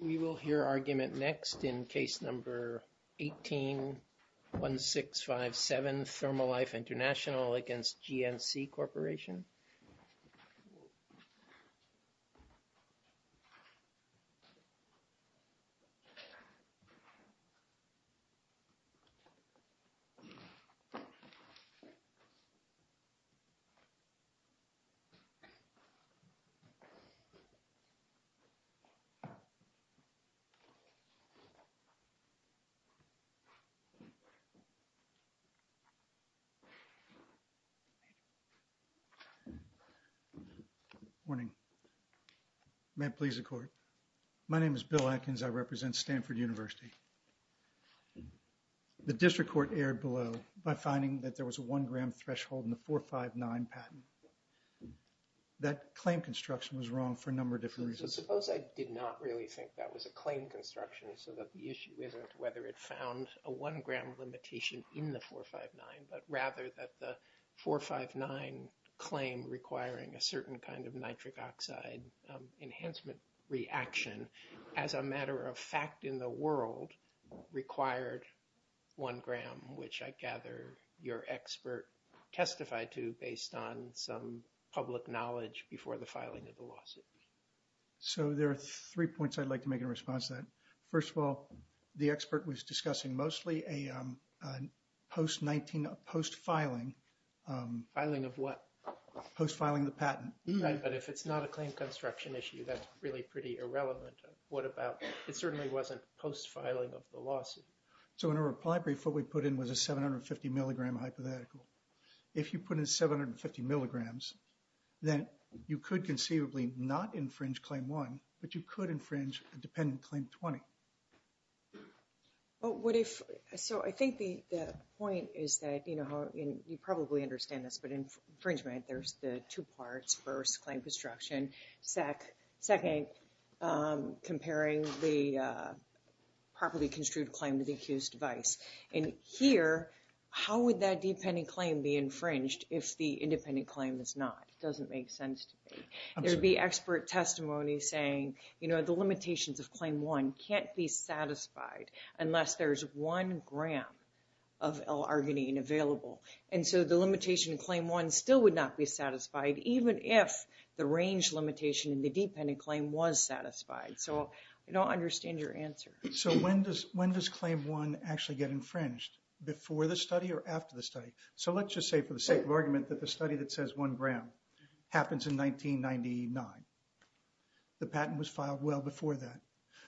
We will hear argument next in case number 18-1657, Thermalife International against Bill Atkins. Good morning, may it please the court. My name is Bill Atkins, I represent Stanford University. The district court erred below by finding that there was a one gram threshold in the 459 patent. That claim construction was wrong for a number of different reasons. Suppose I did not really think that was a claim construction, so that the issue isn't whether it found a one gram limitation in the 459, but rather that the 459 claim requiring a certain kind of nitric oxide enhancement reaction. As a matter of fact in the world, required one gram, which I gather your expert testified to based on some public knowledge before the filing of the lawsuit. So there are three points I'd like to make in response to that. First of all, the expert was discussing mostly a post 19 post filing. Filing of what? Post filing the patent. But if it's not a claim construction issue, that's really pretty irrelevant. What about, it certainly wasn't post filing of the lawsuit. So in a reply brief, what we put in was a 750 milligram hypothetical. If you put in 750 milligrams, then you could conceivably not infringe claim one, but you could infringe a dependent claim 20. Well, what if, so I think the point is that, you know, you probably understand this, but infringement, there's the two parts first claim construction SEC second comparing the properly construed claim to the accused device. And here, how would that dependent claim be infringed if the independent claim is not? It doesn't make sense to me. There'd be expert testimony saying, you know, the limitations of claim one can't be satisfied unless there's one gram of L-arginine available. And so the limitation claim one still would not be satisfied, even if the range limitation in the dependent claim was satisfied. So I don't understand your answer. So when does claim one actually get infringed, before the study or after the study? So let's just say for the sake of argument that the study that says one gram happens in 1999. The patent was filed well before that.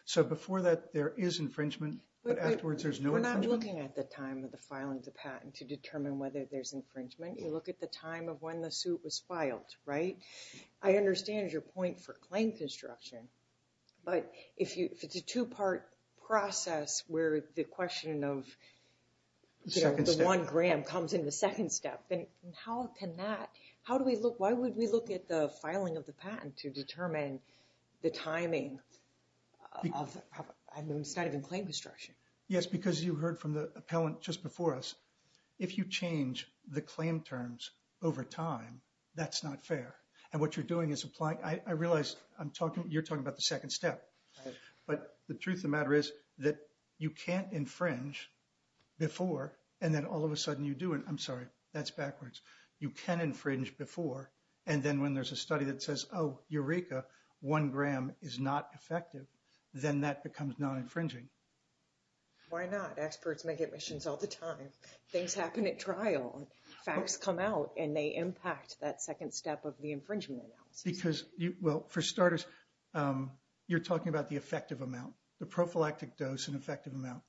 So before that, there is infringement, but afterwards there's no infringement. We're not looking at the time of the filing of the patent to determine whether there's infringement. You look at the time of when the suit was filed, right? I understand your point for claim construction. But if it's a two part process where the question of the one gram comes in the second step, then how can that? How do we look? Why would we look at the filing of the patent to determine the timing of the claim construction? Yes, because you heard from the appellant just before us. If you change the claim terms over time, that's not fair. And what you're doing is applying. I realize I'm talking you're talking about the second step. But the truth of the matter is that you can't infringe before. And then all of a sudden you do. And I'm sorry, that's backwards. You can infringe before. And then when there's a study that says, oh, Eureka, one gram is not effective. Then that becomes non-infringing. Why not? Experts make admissions all the time. Things happen at trial. Facts come out and they impact that second step of the infringement. Because, well, for starters, you're talking about the effective amount, the prophylactic dose and effective amount.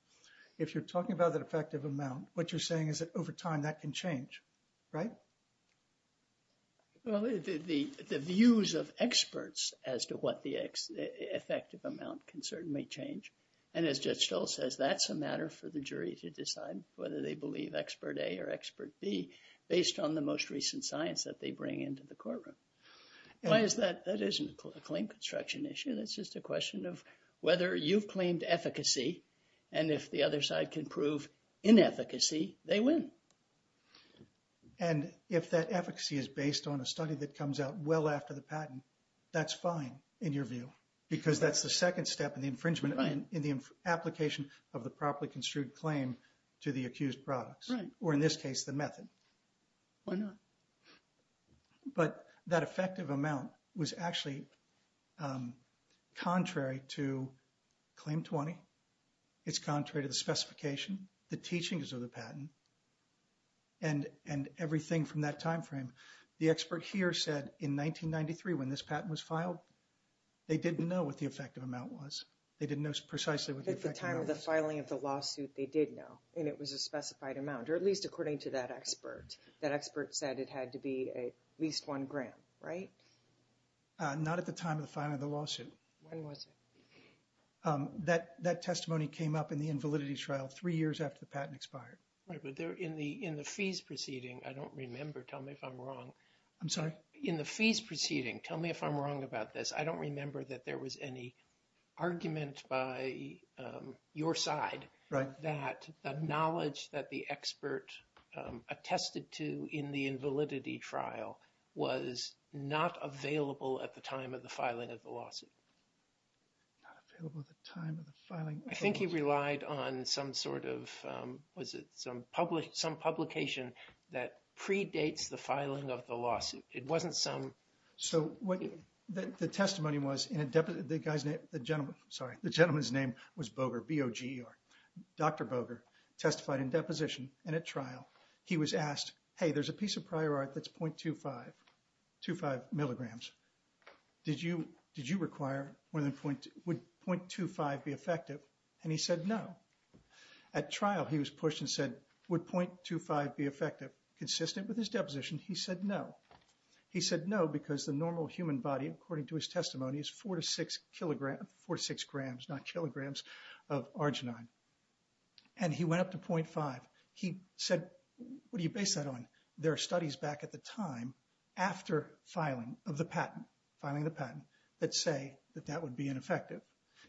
If you're talking about that effective amount, what you're saying is that over time that can change, right? Well, the views of experts as to what the effective amount can certainly change. And as Judge Stoll says, that's a matter for the jury to decide whether they believe expert A or expert B, based on the most recent science that they bring into the courtroom. Why is that? That isn't a claim construction issue. That's just a question of whether you've claimed efficacy. And if the other side can prove inefficacy, they win. And if that efficacy is based on a study that comes out well after the patent, that's fine, in your view, because that's the second step in the infringement in the application of the properly construed claim to the accused products, or in this case, the method. Why not? But that effective amount was actually contrary to Claim 20. It's contrary to the specification, the teachings of the patent, and everything from that time frame. The expert here said in 1993, when this patent was filed, they didn't know what the effective amount was. They didn't know precisely what the effective amount was. At the time of the filing of the lawsuit, they did know, and it was a specified amount, or at least according to that expert. That expert said it had to be at least one gram, right? Not at the time of the filing of the lawsuit. When was it? That testimony came up in the invalidity trial three years after the patent expired. Right, but in the fees proceeding, I don't remember. Tell me if I'm wrong. I'm sorry? In the fees proceeding, tell me if I'm wrong about this. I don't remember that there was any argument by your side that the knowledge that the expert attested to in the invalidity trial was not available at the time of the filing of the lawsuit. Not available at the time of the filing of the lawsuit? I think he relied on some sort of, was it some publication that predates the filing of the lawsuit. It wasn't some... So, the testimony was, the gentleman's name was Boger, B-O-G-E-R. Dr. Boger testified in deposition, and at trial, he was asked, hey, there's a piece of prior art that's 0.25 milligrams. Did you require, would 0.25 be effective? And he said no. At trial, he was pushed and said, would 0.25 be effective? Consistent with his deposition, he said no. He said no because the normal human body, according to his testimony, is four to six grams, not kilograms, of arginine. And he went up to 0.5. He said, what do you base that on? There are studies back at the time after filing of the patent, filing the patent, that say that that would be ineffective.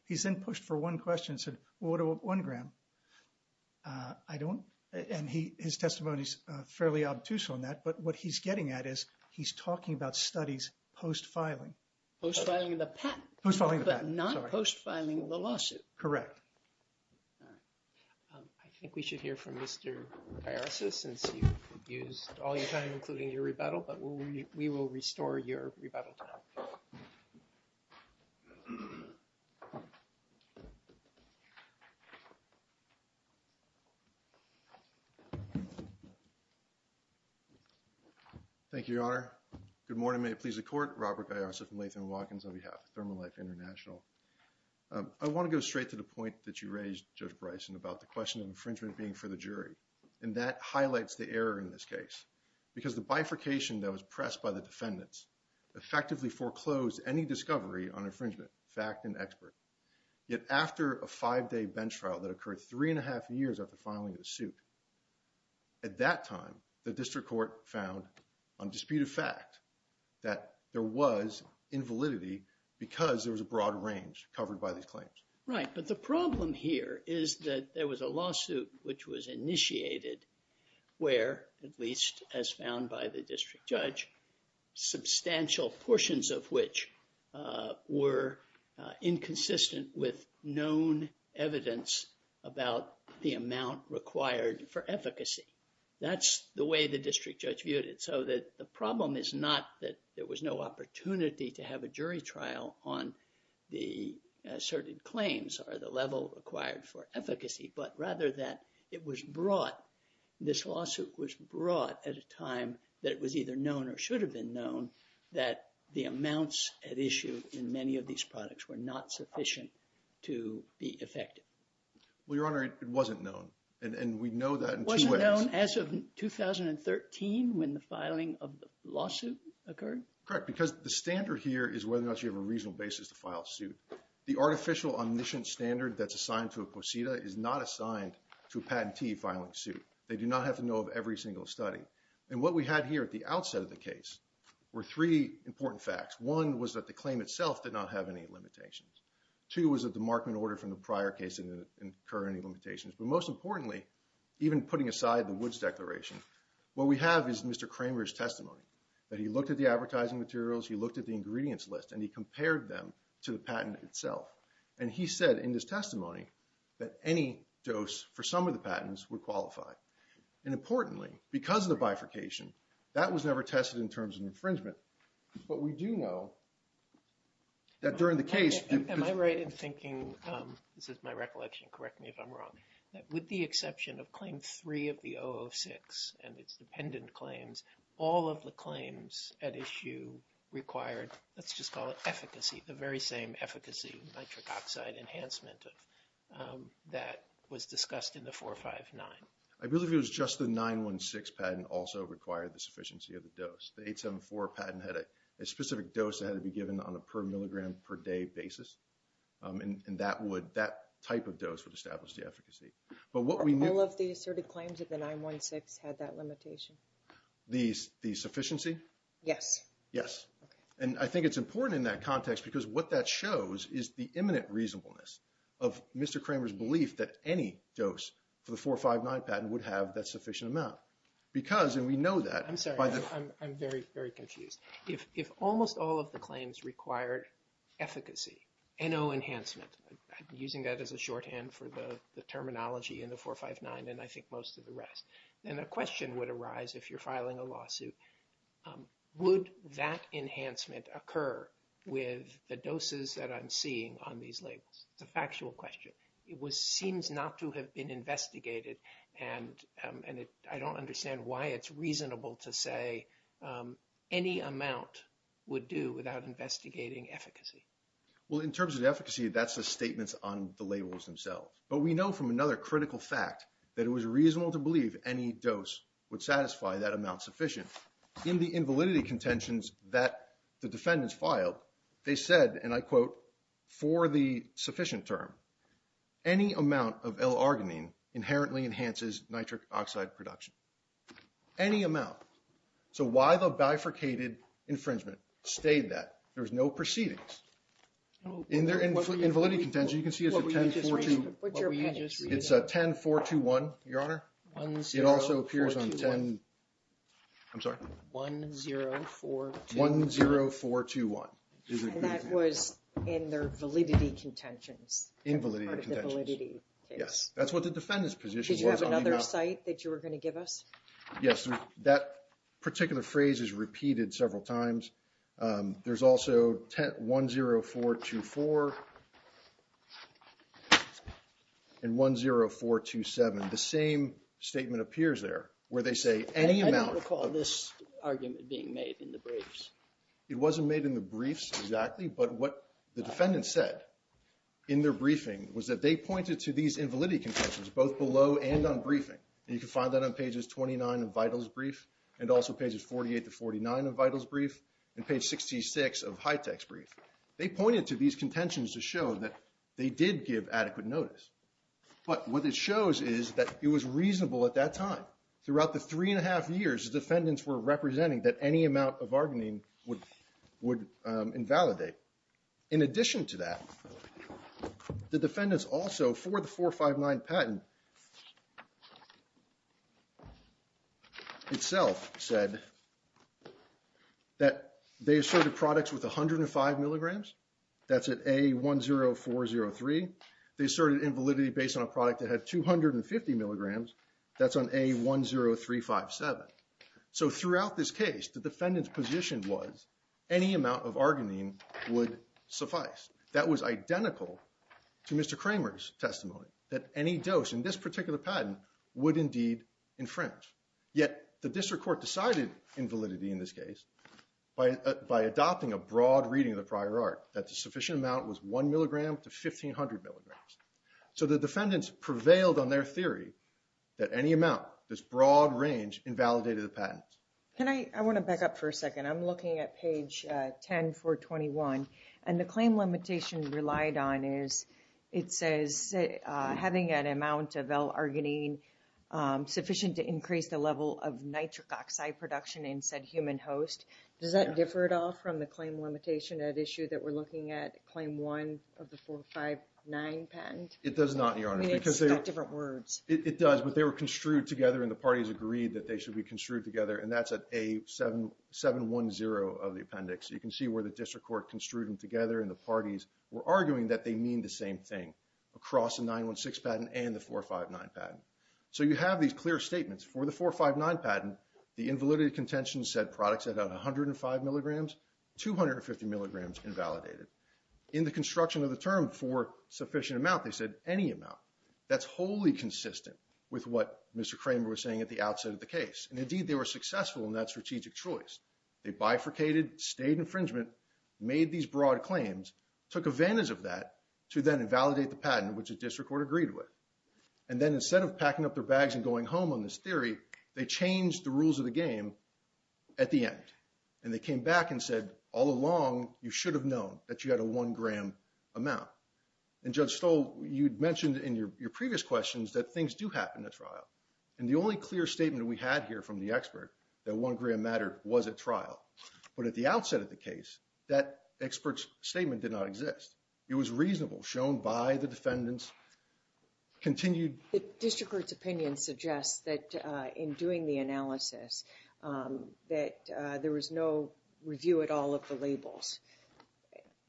He's then pushed for one question and said, well, what about one gram? I don't... And his testimony is fairly obtuse on that, but what he's getting at is he's talking about studies post-filing. Post-filing the patent. Post-filing the patent, sorry. But not post-filing the lawsuit. Correct. All right. I think we should hear from Mr. Biasis since you've abused all your time, including your rebuttal, but we will restore your rebuttal time. Thank you, Your Honor. Good morning. Your Honor, may it please the Court, Robert Biasis from Latham & Watkins on behalf of Thermolife International. I want to go straight to the point that you raised, Judge Bryson, about the question of infringement being for the jury, and that highlights the error in this case because the bifurcation that was pressed by the defendants effectively foreclosed any discovery on infringement, fact and expert. Yet after a five-day bench trial that occurred three and a half years after filing the suit, at that time, the district court found on dispute of fact that there was invalidity because there was a broad range covered by these claims. Right, but the problem here is that there was a lawsuit which was initiated where, at least as found by the district judge, substantial portions of which were inconsistent with known evidence about the amount required for efficacy. That's the way the district judge viewed it. So the problem is not that there was no opportunity to have a jury trial on the asserted claims or the level required for efficacy, but rather that it was brought, this lawsuit was brought at a time that it was either known or should have been known that the amounts at issue in many of these products were not sufficient to be effective. Well, Your Honor, it wasn't known, and we know that in two ways. It wasn't known as of 2013 when the filing of the lawsuit occurred? Correct, because the standard here is whether or not you have a reasonable basis to file a suit. The artificial omniscient standard that's assigned to a quesida is not assigned to a patentee filing a suit. They do not have to know of every single study. And what we had here at the outset of the case were three important facts. One was that the claim itself did not have any limitations. Two was that the Markman order from the prior case didn't incur any limitations. But most importantly, even putting aside the Woods Declaration, what we have is Mr. Kramer's testimony, that he looked at the advertising materials, he looked at the ingredients list, and he compared them to the patent itself. And he said in his testimony that any dose for some of the patents were qualified. And importantly, because of the bifurcation, that was never tested in terms of infringement. But we do know that during the case – Am I right in thinking, this is my recollection, correct me if I'm wrong, that with the exception of Claim 3 of the 006 and its dependent claims, all of the claims at issue required, let's just call it efficacy, the very same efficacy nitric oxide enhancement that was discussed in the 459? I believe it was just the 916 patent also required the sufficiency of the dose. The 874 patent had a specific dose that had to be given on a per milligram per day basis. And that type of dose would establish the efficacy. All of the asserted claims of the 916 had that limitation? The sufficiency? Yes. Yes. And I think it's important in that context because what that shows is the imminent reasonableness of Mr. Kramer's belief that any dose for the 459 patent would have that sufficient amount. Because, and we know that. I'm sorry, I'm very, very confused. If almost all of the claims required efficacy, NO enhancement, I'm using that as a shorthand for the terminology in the 459 and I think most of the rest, then a question would arise if you're filing a lawsuit, would that enhancement occur with the doses that I'm seeing on these labels? It's a factual question. It seems not to have been investigated, and I don't understand why it's reasonable to say any amount would do without investigating efficacy. Well, in terms of efficacy, that's the statements on the labels themselves. But we know from another critical fact that it was reasonable to believe any dose would satisfy that amount sufficient. In the invalidity contentions that the defendants filed, they said, and I quote, for the sufficient term, any amount of L-arginine inherently enhances nitric oxide production. Any amount. So why the bifurcated infringement stayed that? There was no proceedings. In their invalidity contentions, you can see it's a 10-421. It's a 10-421, Your Honor. It also appears on 10, I'm sorry, 10-421. And that was in their validity contentions. Invalidity contentions. Yes. That's what the defendant's position was. Did you have another cite that you were going to give us? Yes. That particular phrase is repeated several times. There's also 10-424 and 10-427. The same statement appears there where they say any amount. I don't recall this argument being made in the briefs. It wasn't made in the briefs exactly. But what the defendant said in their briefing was that they pointed to these invalidity contentions both below and on briefing. And you can find that on pages 29 of Vital's brief and also pages 48 to 49 of Vital's brief and page 66 of Hitech's brief. They pointed to these contentions to show that they did give adequate notice. But what it shows is that it was reasonable at that time. Throughout the three and a half years, the defendants were representing that any amount of bargaining would invalidate. In addition to that, the defendants also for the 459 patent itself said that they asserted products with 105 milligrams. That's at A10403. They asserted invalidity based on a product that had 250 milligrams. That's on A10357. So throughout this case, the defendant's position was any amount of argonine would suffice. That was identical to Mr. Kramer's testimony, that any dose in this particular patent would indeed infringe. Yet the district court decided invalidity in this case by adopting a broad reading of the prior art, that the sufficient amount was 1 milligram to 1,500 milligrams. So the defendants prevailed on their theory that any amount, this broad range, invalidated the patent. I want to back up for a second. I'm looking at page 10, 421. And the claim limitation relied on is, it says, having an amount of L-argonine sufficient to increase the level of nitric oxide production in said human host. Does that differ at all from the claim limitation at issue that we're looking at claim one of the 459 patent? It does not, Your Honor. I mean, it's got different words. It does, but they were construed together and the parties agreed that they should be construed together. And that's at A710 of the appendix. You can see where the district court construed them together and the parties were arguing that they mean the same thing across the 916 patent and the 459 patent. So you have these clear statements for the 459 patent. The invalidated contention said products at 105 milligrams, 250 milligrams invalidated. In the construction of the term for sufficient amount, they said any amount. That's wholly consistent with what Mr. Kramer was saying at the outset of the case. And indeed, they were successful in that strategic choice. They bifurcated, stayed infringement, made these broad claims, took advantage of that to then invalidate the patent, which the district court agreed with. And then instead of packing up their bags and going home on this theory, they changed the rules of the game at the end. And they came back and said, all along, you should have known that you had a one gram amount. And Judge Stoll, you'd mentioned in your previous questions that things do happen at trial. And the only clear statement we had here from the expert that one gram mattered was at trial. But at the outset of the case, that expert's statement did not exist. It was reasonable, shown by the defendants, continued. The district court's opinion suggests that in doing the analysis, that there was no review at all of the labels.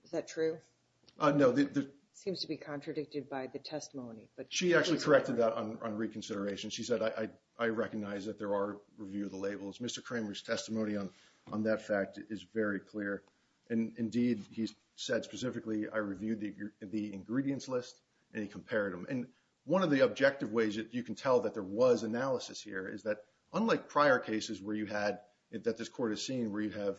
Is that true? No. Seems to be contradicted by the testimony. She actually corrected that on reconsideration. She said, I recognize that there are review of the labels. Mr. Kramer's testimony on that fact is very clear. And indeed, he said specifically, I reviewed the ingredients list and he compared them. And one of the objective ways that you can tell that there was analysis here is that unlike prior cases where you had that this court has seen, where you have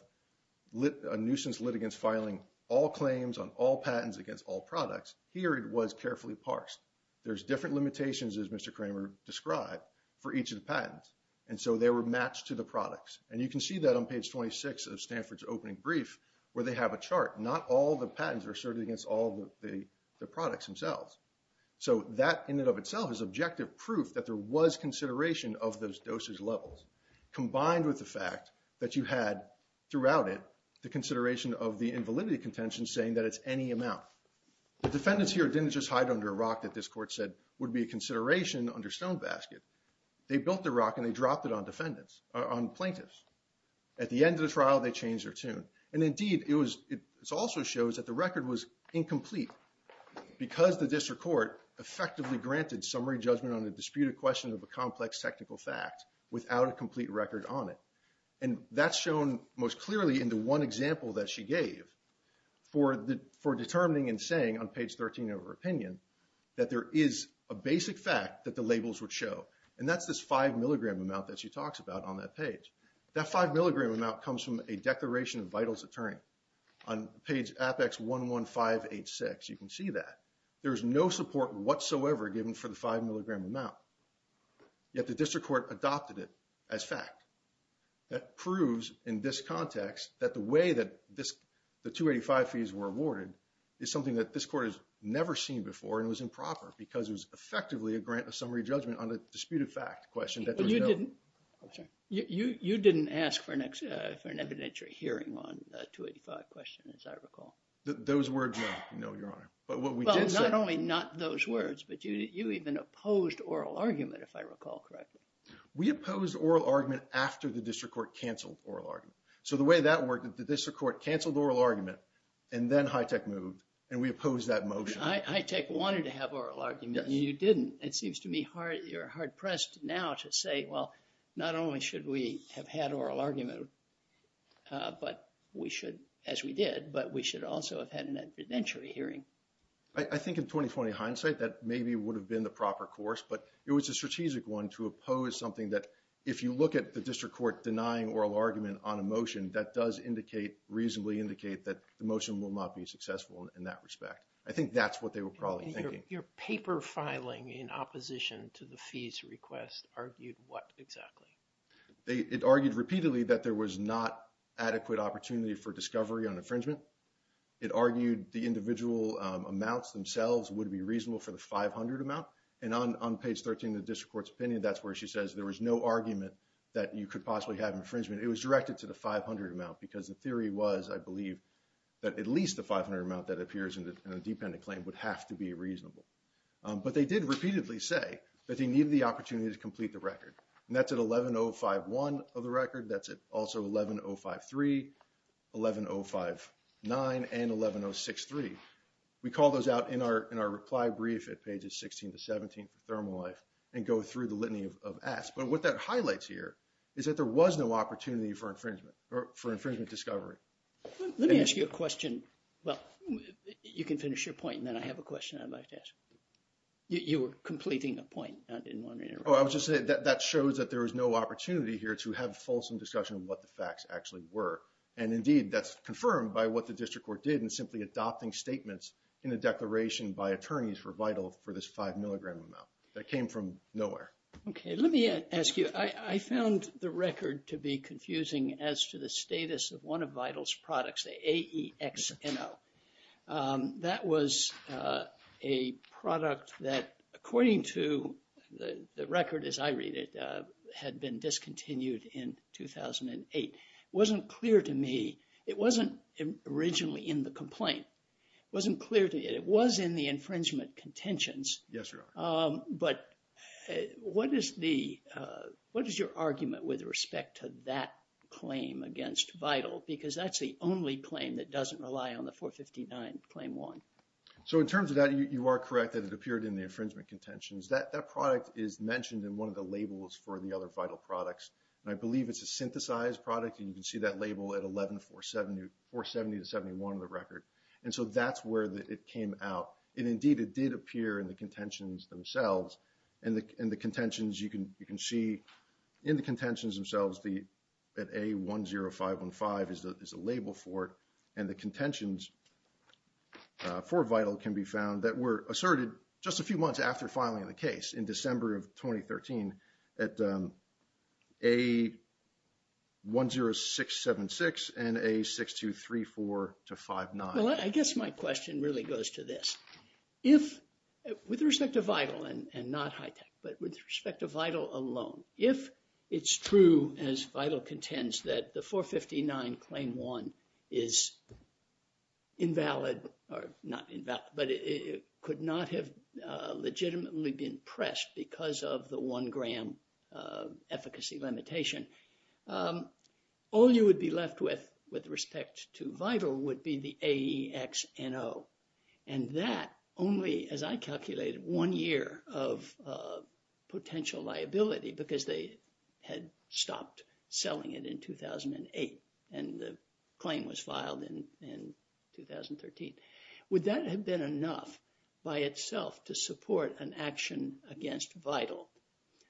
a nuisance litigants filing all claims on all patents against all products. Here it was carefully parsed. There's different limitations, as Mr. Kramer described, for each of the patents. And so they were matched to the products. And you can see that on page 26 of Stanford's opening brief, where they have a chart. Not all the patents are asserted against all the products themselves. So that in and of itself is objective proof that there was consideration of those dosage levels, combined with the fact that you had throughout it the consideration of the invalidity contention saying that it's any amount. The defendants here didn't just hide under a rock that this court said would be a consideration under stone basket. They built the rock and they dropped it on plaintiffs. At the end of the trial, they changed their tune. And indeed, it also shows that the record was incomplete because the district court effectively granted summary judgment on the disputed question of a complex technical fact without a complete record on it. And that's shown most clearly in the one example that she gave for determining and saying on page 13 of her opinion that there is a basic fact that the labels would show. And that's this five milligram amount that she talks about on that page. That five milligram amount comes from a declaration of vitals attorney. On page Apex 11586, you can see that. There's no support whatsoever given for the five milligram amount. Yet the district court adopted it as fact. That proves in this context that the way that this, the 285 fees were awarded is something that this court has never seen before and it was improper because it was effectively a grant of summary judgment on a disputed fact question. You didn't ask for an evidentiary hearing on the 285 question as I recall. Those words, no, your honor. Well, not only not those words, but you even opposed oral argument if I recall correctly. We opposed oral argument after the district court canceled oral argument. So the way that worked is the district court canceled oral argument and then HITECH moved and we opposed that motion. HITECH wanted to have oral argument and you didn't. It seems to me hard, you're hard pressed now to say, well, not only should we have had oral argument, but we should, as we did, but we should also have had an evidentiary hearing. I think in 20-20 hindsight, that maybe would have been the proper course, but it was a strategic one to oppose something that if you look at the district court denying oral argument on a motion, that does indicate reasonably indicate that the motion will not be successful in that respect. I think that's what they were probably thinking. Your paper filing in opposition to the fees request argued what exactly? It argued repeatedly that there was not adequate opportunity for discovery on infringement. It argued the individual amounts themselves would be reasonable for the 500 amount. And on page 13 of the district court's opinion, that's where she says there was no argument that you could possibly have infringement. It was directed to the 500 amount because the theory was, I believe, that at least the 500 amount that appears in a dependent claim would have to be reasonable. But they did repeatedly say that they needed the opportunity to complete the record. And that's at 11051 of the record. That's also 11053, 11059, and 11063. We call those out in our reply brief at pages 16 to 17 of ThermoLife and go through the litany of asks. But what that highlights here is that there was no opportunity for infringement discovery. Let me ask you a question. Well, you can finish your point, and then I have a question I'd like to ask. You were completing a point. I didn't want to interrupt. Oh, I was just saying that that shows that there was no opportunity here to have a fulsome discussion of what the facts actually were. And indeed, that's confirmed by what the district court did in simply adopting statements in a declaration by attorneys were vital for this five milligram amount. That came from nowhere. Okay. Let me ask you. I found the record to be confusing as to the status of one of Vital's products, the AEXMO. That was a product that, according to the record as I read it, had been discontinued in 2008. It wasn't clear to me. It wasn't originally in the complaint. It wasn't clear to me. It was in the infringement contentions. Yes, Your Honor. But what is your argument with respect to that claim against Vital? Because that's the only claim that doesn't rely on the 459 Claim 1. So in terms of that, you are correct that it appeared in the infringement contentions. That product is mentioned in one of the labels for the other Vital products. And I believe it's a synthesized product, and you can see that label at 11470-71 in the record. And so that's where it came out. And indeed, it did appear in the contentions themselves. And the contentions, you can see in the contentions themselves that A10515 is a label for it. And the contentions for Vital can be found that were asserted just a few months after filing the case, in December of 2013, at A10676 and A6234-59. Well, I guess my question really goes to this. If, with respect to Vital, and not HITECH, but with respect to Vital alone, if it's true, as Vital contends, that the 459 Claim 1 is invalid, or not invalid, but it could not have legitimately been pressed because of the one gram efficacy limitation, all you would be left with, with respect to Vital, would be the AEXNO. And that only, as I calculated, one year of potential liability, because they had stopped selling it in 2008, and the claim was filed in 2013. Would that have been enough, by itself, to support an action against Vital,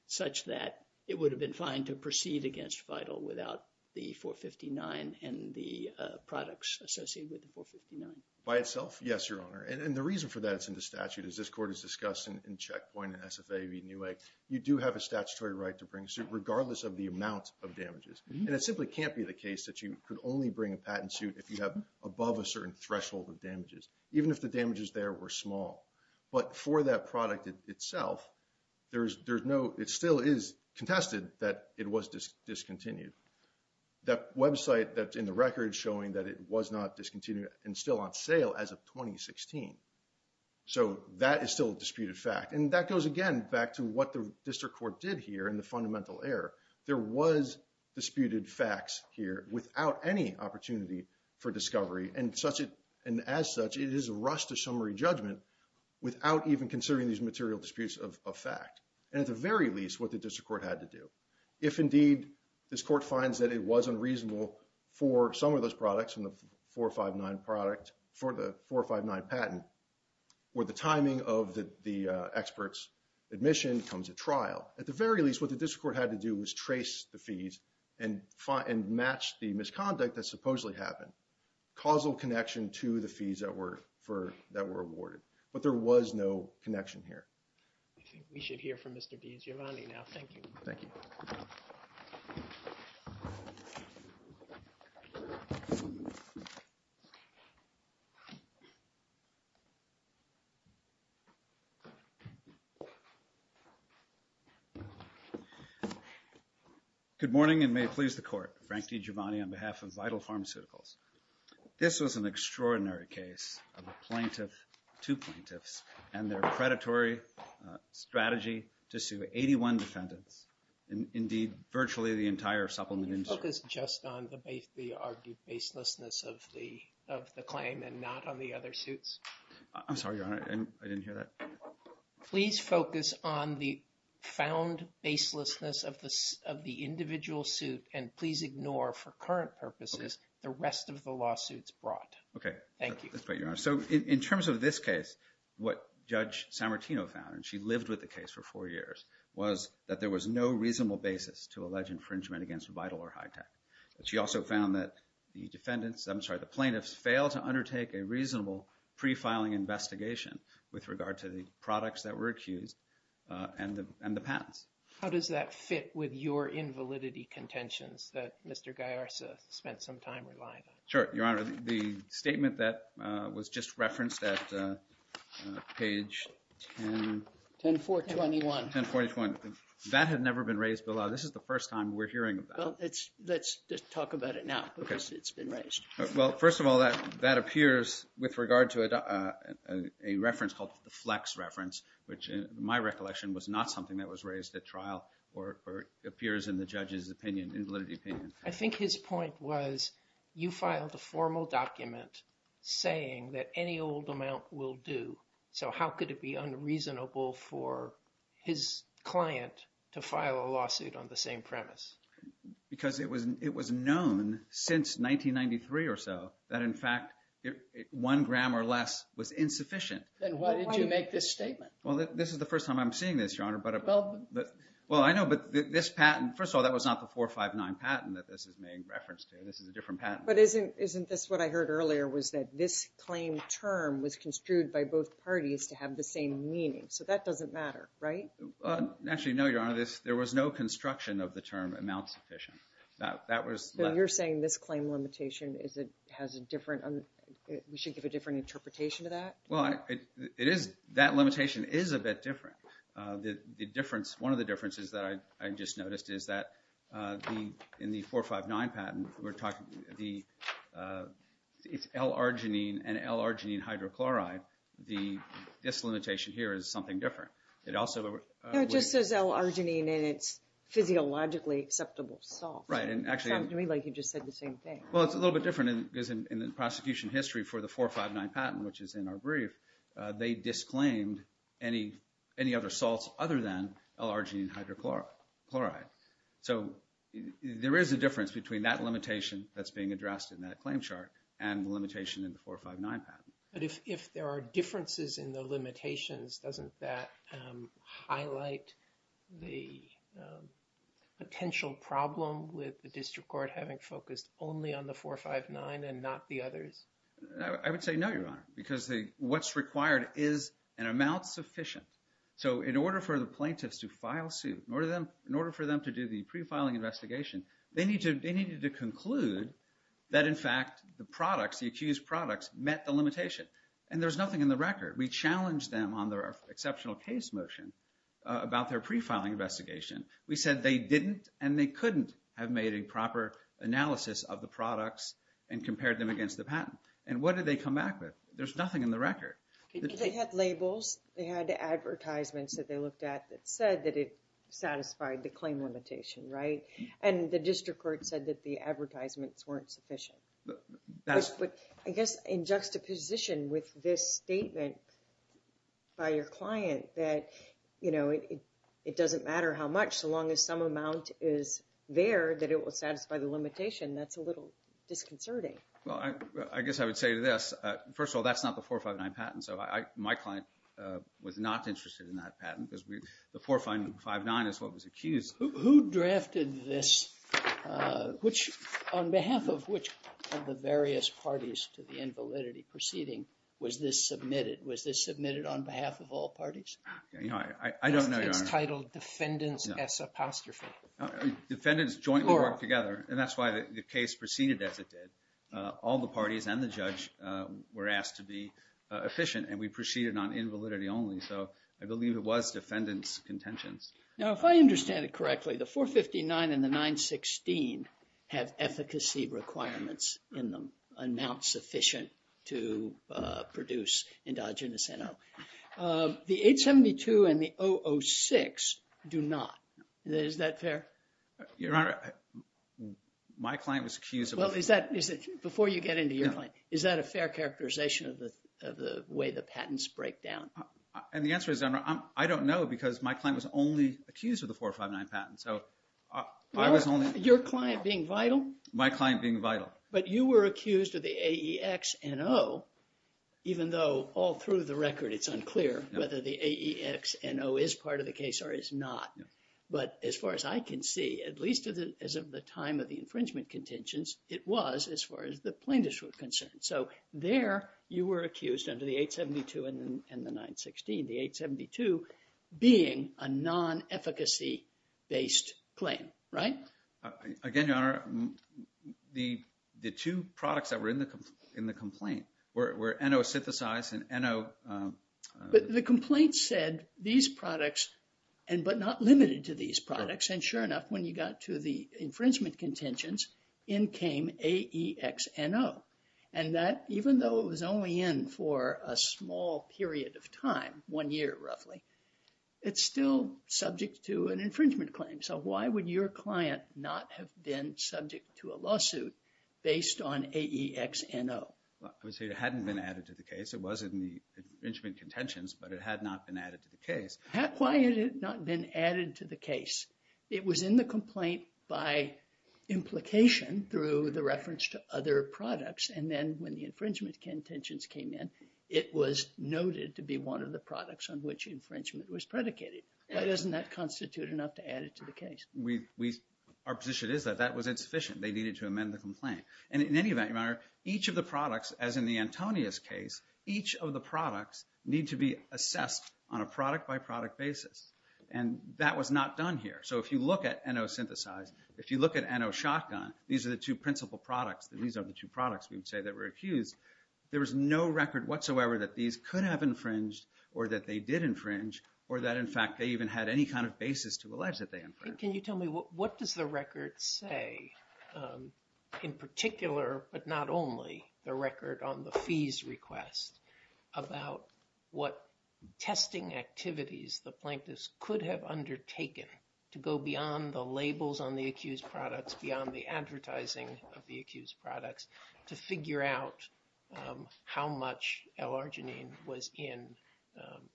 such that it would have been fine to proceed against Vital without the 459 and the products associated with the 459? By itself, yes, Your Honor. And the reason for that is in the statute, as this Court has discussed in Checkpoint and SFA v. NUA. You do have a statutory right to bring a suit, regardless of the amount of damages. And it simply can't be the case that you could only bring a patent suit if you have above a certain threshold of damages, even if the damages there were small. But for that product itself, it still is contested that it was discontinued. That website that's in the record is showing that it was not discontinued and still on sale as of 2016. So that is still a disputed fact. And that goes, again, back to what the District Court did here in the fundamental error. There was disputed facts here without any opportunity for discovery. And as such, it is a rush to summary judgment without even considering these material disputes of fact. And at the very least, what the District Court had to do. If, indeed, this Court finds that it was unreasonable for some of those products in the 459 patent, or the timing of the expert's admission comes at trial. At the very least, what the District Court had to do was trace the fees and match the misconduct that supposedly happened. Causal connection to the fees that were awarded. But there was no connection here. I think we should hear from Mr. Bianziani now. Thank you. Thank you. Thank you. Good morning and may it please the Court. Frank DiGiovanni on behalf of Vital Pharmaceuticals. This was an extraordinary case of a plaintiff, two plaintiffs, and their predatory strategy to sue 81 defendants. Indeed, virtually the entire supplement industry. Can you focus just on the argued baselessness of the claim and not on the other suits? I'm sorry, Your Honor. I didn't hear that. Please focus on the found baselessness of the individual suit and please ignore, for current purposes, the rest of the lawsuits brought. Okay. Thank you. That's great, Your Honor. So in terms of this case, what Judge Sammartino found, and she lived with the case for four years, was that there was no reasonable basis to allege infringement against Vital or Hitech. But she also found that the defendants, I'm sorry, the plaintiffs, failed to undertake a reasonable pre-filing investigation with regard to the products that were accused and the patents. How does that fit with your invalidity contentions that Mr. Gaiarsa spent some time relying on? Sure, Your Honor. The statement that was just referenced at page 10. 10-421. 10-421. That had never been raised before. This is the first time we're hearing about it. Well, let's just talk about it now because it's been raised. Well, first of all, that appears with regard to a reference called the Flex reference, which in my recollection was not something that was raised at trial or appears in the judge's opinion, invalidity opinion. I think his point was you filed a formal document saying that any old amount will do. So how could it be unreasonable for his client to file a lawsuit on the same premise? Because it was known since 1993 or so that in fact one gram or less was insufficient. Then why did you make this statement? Well, this is the first time I'm seeing this, Your Honor. Well, I know. But this patent, first of all, that was not the 459 patent that this is made reference to. This is a different patent. But isn't this what I heard earlier was that this claim term was construed by both parties to have the same meaning? So that doesn't matter, right? Actually, no, Your Honor. There was no construction of the term amount sufficient. So you're saying this claim limitation has a different – we should give a different interpretation to that? Well, that limitation is a bit different. One of the differences that I just noticed is that in the 459 patent, it's L-arginine and L-arginine hydrochloride. This limitation here is something different. It also – No, it just says L-arginine and it's physiologically acceptable salt. Right, and actually – It sounds to me like you just said the same thing. Well, it's a little bit different because in the prosecution history for the 459 patent, which is in our brief, they disclaimed any other salts other than L-arginine hydrochloride. So there is a difference between that limitation that's being addressed in that claim chart and the limitation in the 459 patent. But if there are differences in the limitations, doesn't that highlight the potential problem with the district court having focused only on the 459 and not the others? I would say no, Your Honor, because what's required is an amount sufficient. So in order for the plaintiffs to file suit, in order for them to do the pre-filing investigation, they needed to conclude that in fact the products, the accused products, met the limitation. And there's nothing in the record. We challenged them on their exceptional case motion about their pre-filing investigation. We said they didn't and they couldn't have made a proper analysis of the products and compared them against the patent. And what did they come back with? There's nothing in the record. They had labels. They had advertisements that they looked at that said that it satisfied the claim limitation, right? And the district court said that the advertisements weren't sufficient. But I guess in juxtaposition with this statement by your client that, you know, it doesn't matter how much so long as some amount is there that it will satisfy the limitation, that's a little disconcerting. Well, I guess I would say to this, first of all, that's not the 459 patent. So my client was not interested in that patent because the 459 is what was accused. Who drafted this? On behalf of which of the various parties to the invalidity proceeding was this submitted? Was this submitted on behalf of all parties? I don't know, Your Honor. It's titled defendants S apostrophe. Defendants jointly work together, and that's why the case proceeded as it did. All the parties and the judge were asked to be efficient, and we proceeded on invalidity only. So I believe it was defendants' contentions. Now, if I understand it correctly, the 459 and the 916 have efficacy requirements in them, amount sufficient to produce endogenous NO. The 872 and the 006 do not. Is that fair? Your Honor, my client was accused of… Before you get into your client, is that a fair characterization of the way the patents break down? And the answer is I don't know because my client was only accused of the 459 patent. Your client being vital? My client being vital. But you were accused of the AEX NO, even though all through the record it's unclear whether the AEX NO is part of the case or is not. But as far as I can see, at least as of the time of the infringement contentions, it was as far as the plaintiffs were concerned. So there you were accused under the 872 and the 916, the 872 being a non-efficacy-based claim, right? Again, Your Honor, the two products that were in the complaint were NO synthesized and NO… But the complaint said these products, but not limited to these products. And sure enough, when you got to the infringement contentions, in came AEX NO. And that, even though it was only in for a small period of time, one year roughly, it's still subject to an infringement claim. So why would your client not have been subject to a lawsuit based on AEX NO? I would say it hadn't been added to the case. It was in the infringement contentions, but it had not been added to the case. Why had it not been added to the case? It was in the complaint by implication through the reference to other products. And then when the infringement contentions came in, it was noted to be one of the products on which infringement was predicated. Why doesn't that constitute enough to add it to the case? Our position is that that was insufficient. They needed to amend the complaint. And in any event, each of the products, as in the Antonius case, each of the products need to be assessed on a product-by-product basis. And that was not done here. So if you look at NO Synthesize, if you look at NO Shotgun, these are the two principal products. These are the two products, we would say, that were accused. There was no record whatsoever that these could have infringed or that they did infringe or that, in fact, they even had any kind of basis to allege that they infringed. Can you tell me what does the record say, in particular, but not only, the record on the fees request, about what testing activities the plaintiffs could have undertaken to go beyond the labels on the accused products, beyond the advertising of the accused products, to figure out how much L-Arginine was in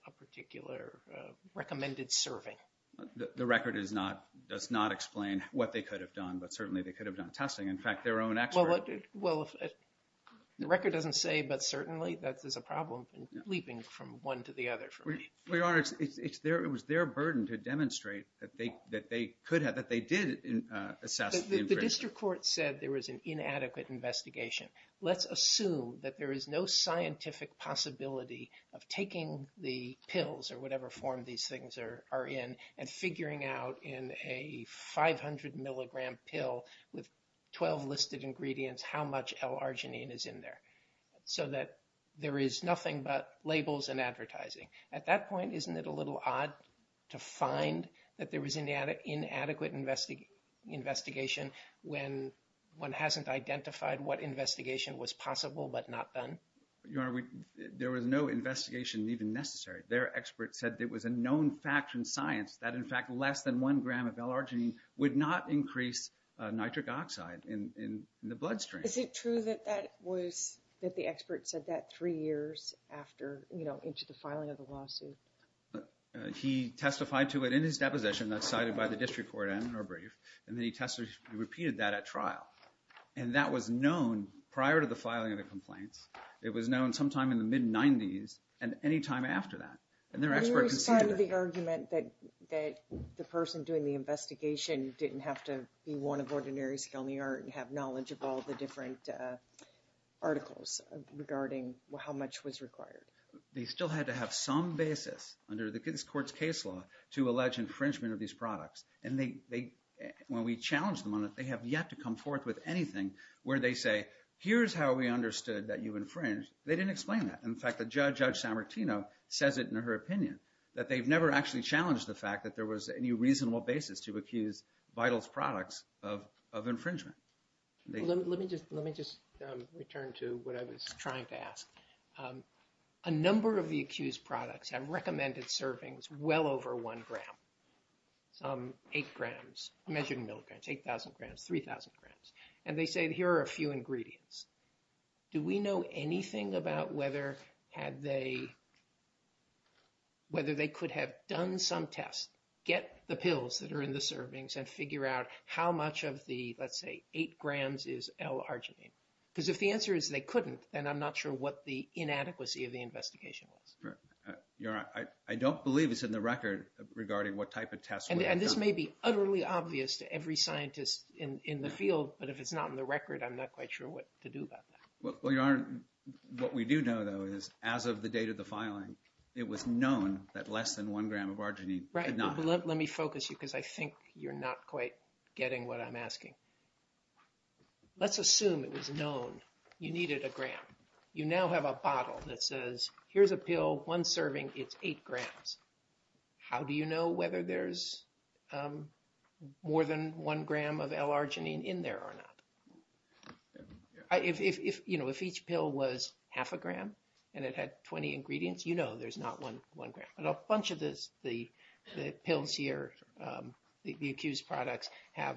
a particular recommended serving? The record does not explain what they could have done, but certainly they could have done testing. In fact, their own expert— Well, if the record doesn't say, but certainly, that is a problem leaping from one to the other for me. Your Honor, it was their burden to demonstrate that they could have, that they did assess the infringement. The district court said there was an inadequate investigation. Let's assume that there is no scientific possibility of taking the pills or whatever form these things are in and figuring out in a 500-milligram pill with 12 listed ingredients how much L-Arginine is in there, so that there is nothing but labels and advertising. At that point, isn't it a little odd to find that there was an inadequate investigation when one hasn't identified what investigation was possible but not done? Your Honor, there was no investigation even necessary. Their expert said there was a known fact from science that, in fact, less than one gram of L-Arginine would not increase nitric oxide in the bloodstream. Is it true that that was, that the expert said that three years after, you know, into the filing of the lawsuit? He testified to it in his deposition that's cited by the district court and in our brief. And then he tested, he repeated that at trial. And that was known prior to the filing of the complaints. It was known sometime in the mid-'90s and any time after that. And their expert conceded that. You responded to the argument that the person doing the investigation didn't have to be one of ordinary skill in the art and have knowledge of all the different articles regarding how much was required. They still had to have some basis under the district court's case law to allege infringement of these products. And they, when we challenged them on it, they have yet to come forth with anything where they say, here's how we understood that you infringed. They didn't explain that. In fact, Judge San Martino says it in her opinion, that they've never actually challenged the fact that there was any reasonable basis to accuse Vital's products of infringement. A number of the accused products have recommended servings well over one gram, some eight grams, measured in milligrams, 8,000 grams, 3,000 grams. And they say, here are a few ingredients. Do we know anything about whether they could have done some tests, get the pills that are in the servings, and figure out how much of the, let's say, eight grams is L-arginine? Because if the answer is they couldn't, then I'm not sure what the inadequacy of the investigation was. You're right. I don't believe it's in the record regarding what type of tests were done. And this may be utterly obvious to every scientist in the field, but if it's not in the record, I'm not quite sure what to do about that. Well, Your Honor, what we do know, though, is as of the date of the filing, it was known that less than one gram of arginine could not have been. Right. Let me focus you because I think you're not quite getting what I'm asking. Let's assume it was known you needed a gram. You now have a bottle that says, here's a pill, one serving, it's eight grams. How do you know whether there's more than one gram of L-arginine in there or not? If each pill was half a gram and it had 20 ingredients, you know there's not one gram. But a bunch of the pills here, the accused products, have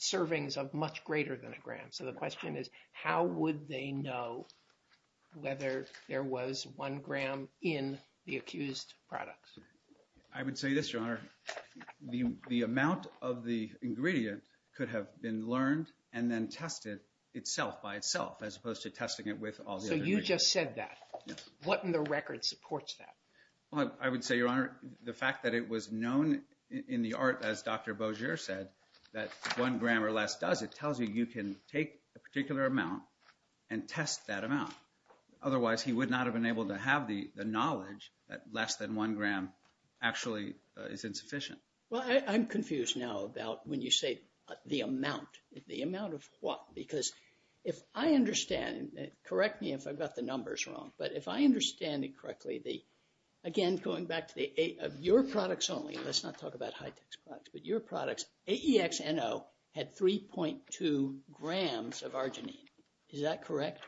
servings of much greater than a gram. So the question is, how would they know whether there was one gram in the accused products? I would say this, Your Honor. The amount of the ingredient could have been learned and then tested itself by itself as opposed to testing it with all the other ingredients. So you just said that. Yes. And what in the record supports that? Well, I would say, Your Honor, the fact that it was known in the art, as Dr. Bauger said, that one gram or less does, it tells you you can take a particular amount and test that amount. Otherwise, he would not have been able to have the knowledge that less than one gram actually is insufficient. Well, I'm confused now about when you say the amount. The amount of what? Because if I understand, correct me if I've got the numbers wrong, but if I understand it correctly, again, going back to your products only, let's not talk about high-tech products, but your products, AEXNO had 3.2 grams of arginine. Is that correct?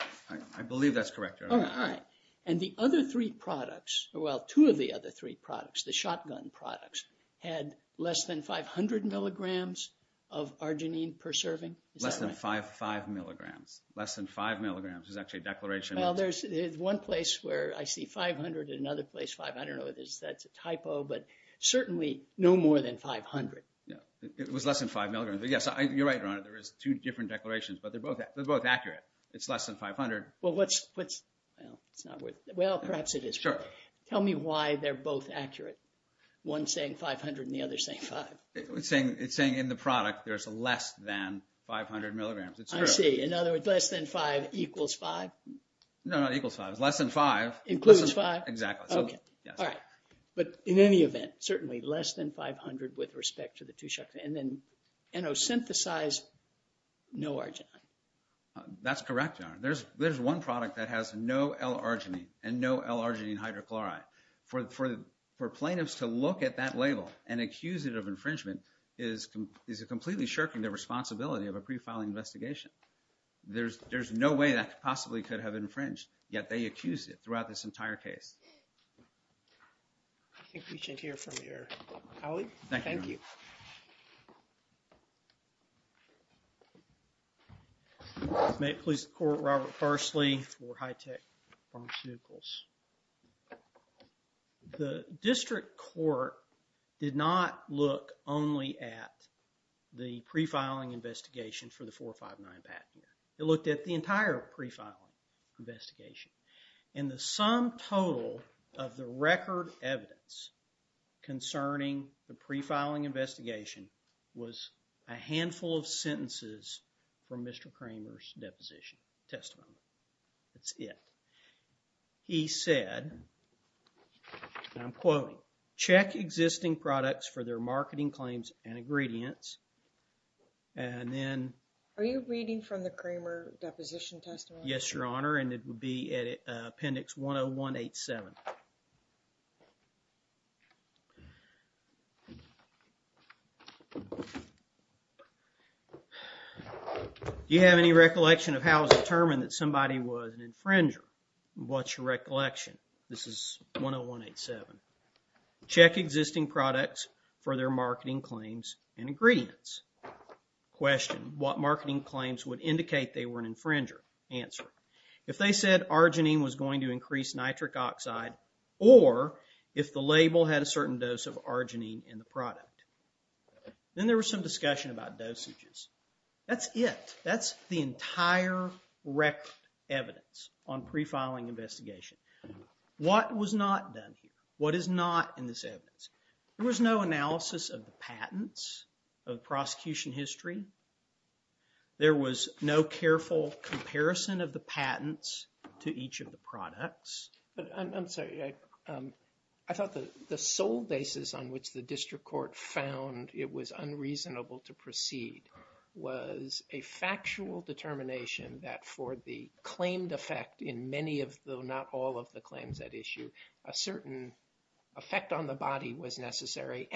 I believe that's correct, Your Honor. All right. And the other three products, well, two of the other three products, the shotgun products, had less than 500 milligrams of arginine per serving? Less than five milligrams. Less than five milligrams is actually a declaration. Well, there's one place where I see 500 and another place 500. I don't know if that's a typo, but certainly no more than 500. It was less than five milligrams. Yes, you're right, Your Honor. There is two different declarations, but they're both accurate. It's less than 500. Well, perhaps it is. Sure. Tell me why they're both accurate, one saying 500 and the other saying five. It's saying in the product there's less than 500 milligrams. It's true. I see. I see. In other words, less than five equals five? No, not equals five. It's less than five. Includes five? Exactly. Okay. Yes. All right. But in any event, certainly less than 500 with respect to the two shotguns. And then Enosynthasize, no arginine. That's correct, Your Honor. There's one product that has no L-arginine and no L-arginine hydrochloride. For plaintiffs to look at that label and accuse it of infringement is completely shirking the responsibility of a pre-filing investigation. There's no way that possibly could have infringed, yet they accused it throughout this entire case. I think we should hear from your colleague. Thank you, Your Honor. Thank you. May it please the Court, Robert Parsley for high-tech pharmaceuticals. The district court did not look only at the pre-filing investigation for the 459 patent. It looked at the entire pre-filing investigation. And the sum total of the record evidence concerning the pre-filing investigation was a handful of sentences from Mr. Kramer's deposition, testimony. That's it. He said, and I'm quoting, check existing products for their marketing claims and ingredients. And then... Are you reading from the Kramer deposition testimony? Yes, Your Honor, and it would be at appendix 10187. Do you have any recollection of how it was determined that somebody was an infringer? What's your recollection? This is 10187. Check existing products for their marketing claims and ingredients. Question, what marketing claims would indicate they were an infringer? If they said arginine was going to increase nitric oxide or if the label had a certain dose of arginine in the product. Then there was some discussion about dosages. That's it. That's the entire record evidence on pre-filing investigation. What was not done here? What is not in this evidence? There was no analysis of the patents, of the prosecution history. There was no careful comparison of the patents to each of the products. I'm sorry. I thought the sole basis on which the district court found it was unreasonable to proceed was a factual determination that for the claimed effect in many of, though not all of the claims at issue, a certain effect on the body was necessary.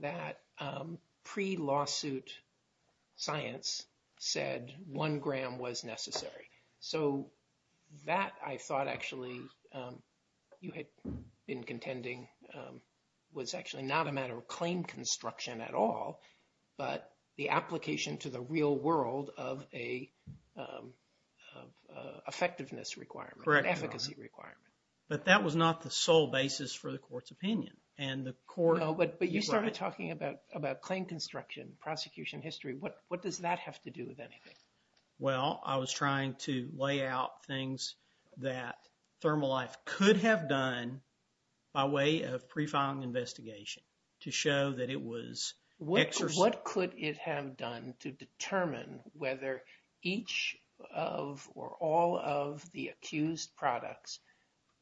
That pre-lawsuit science said one gram was necessary. That I thought actually you had been contending was actually not a matter of claim construction at all, but the application to the real world of an effectiveness requirement, an efficacy requirement. Correct, Your Honor. But that was not the sole basis for the court's opinion. No, but you started talking about claim construction, prosecution history. What does that have to do with anything? Well, I was trying to lay out things that Thermalife could have done by way of pre-filing investigation to show that it was... What could it have done to determine whether each of or all of the accused products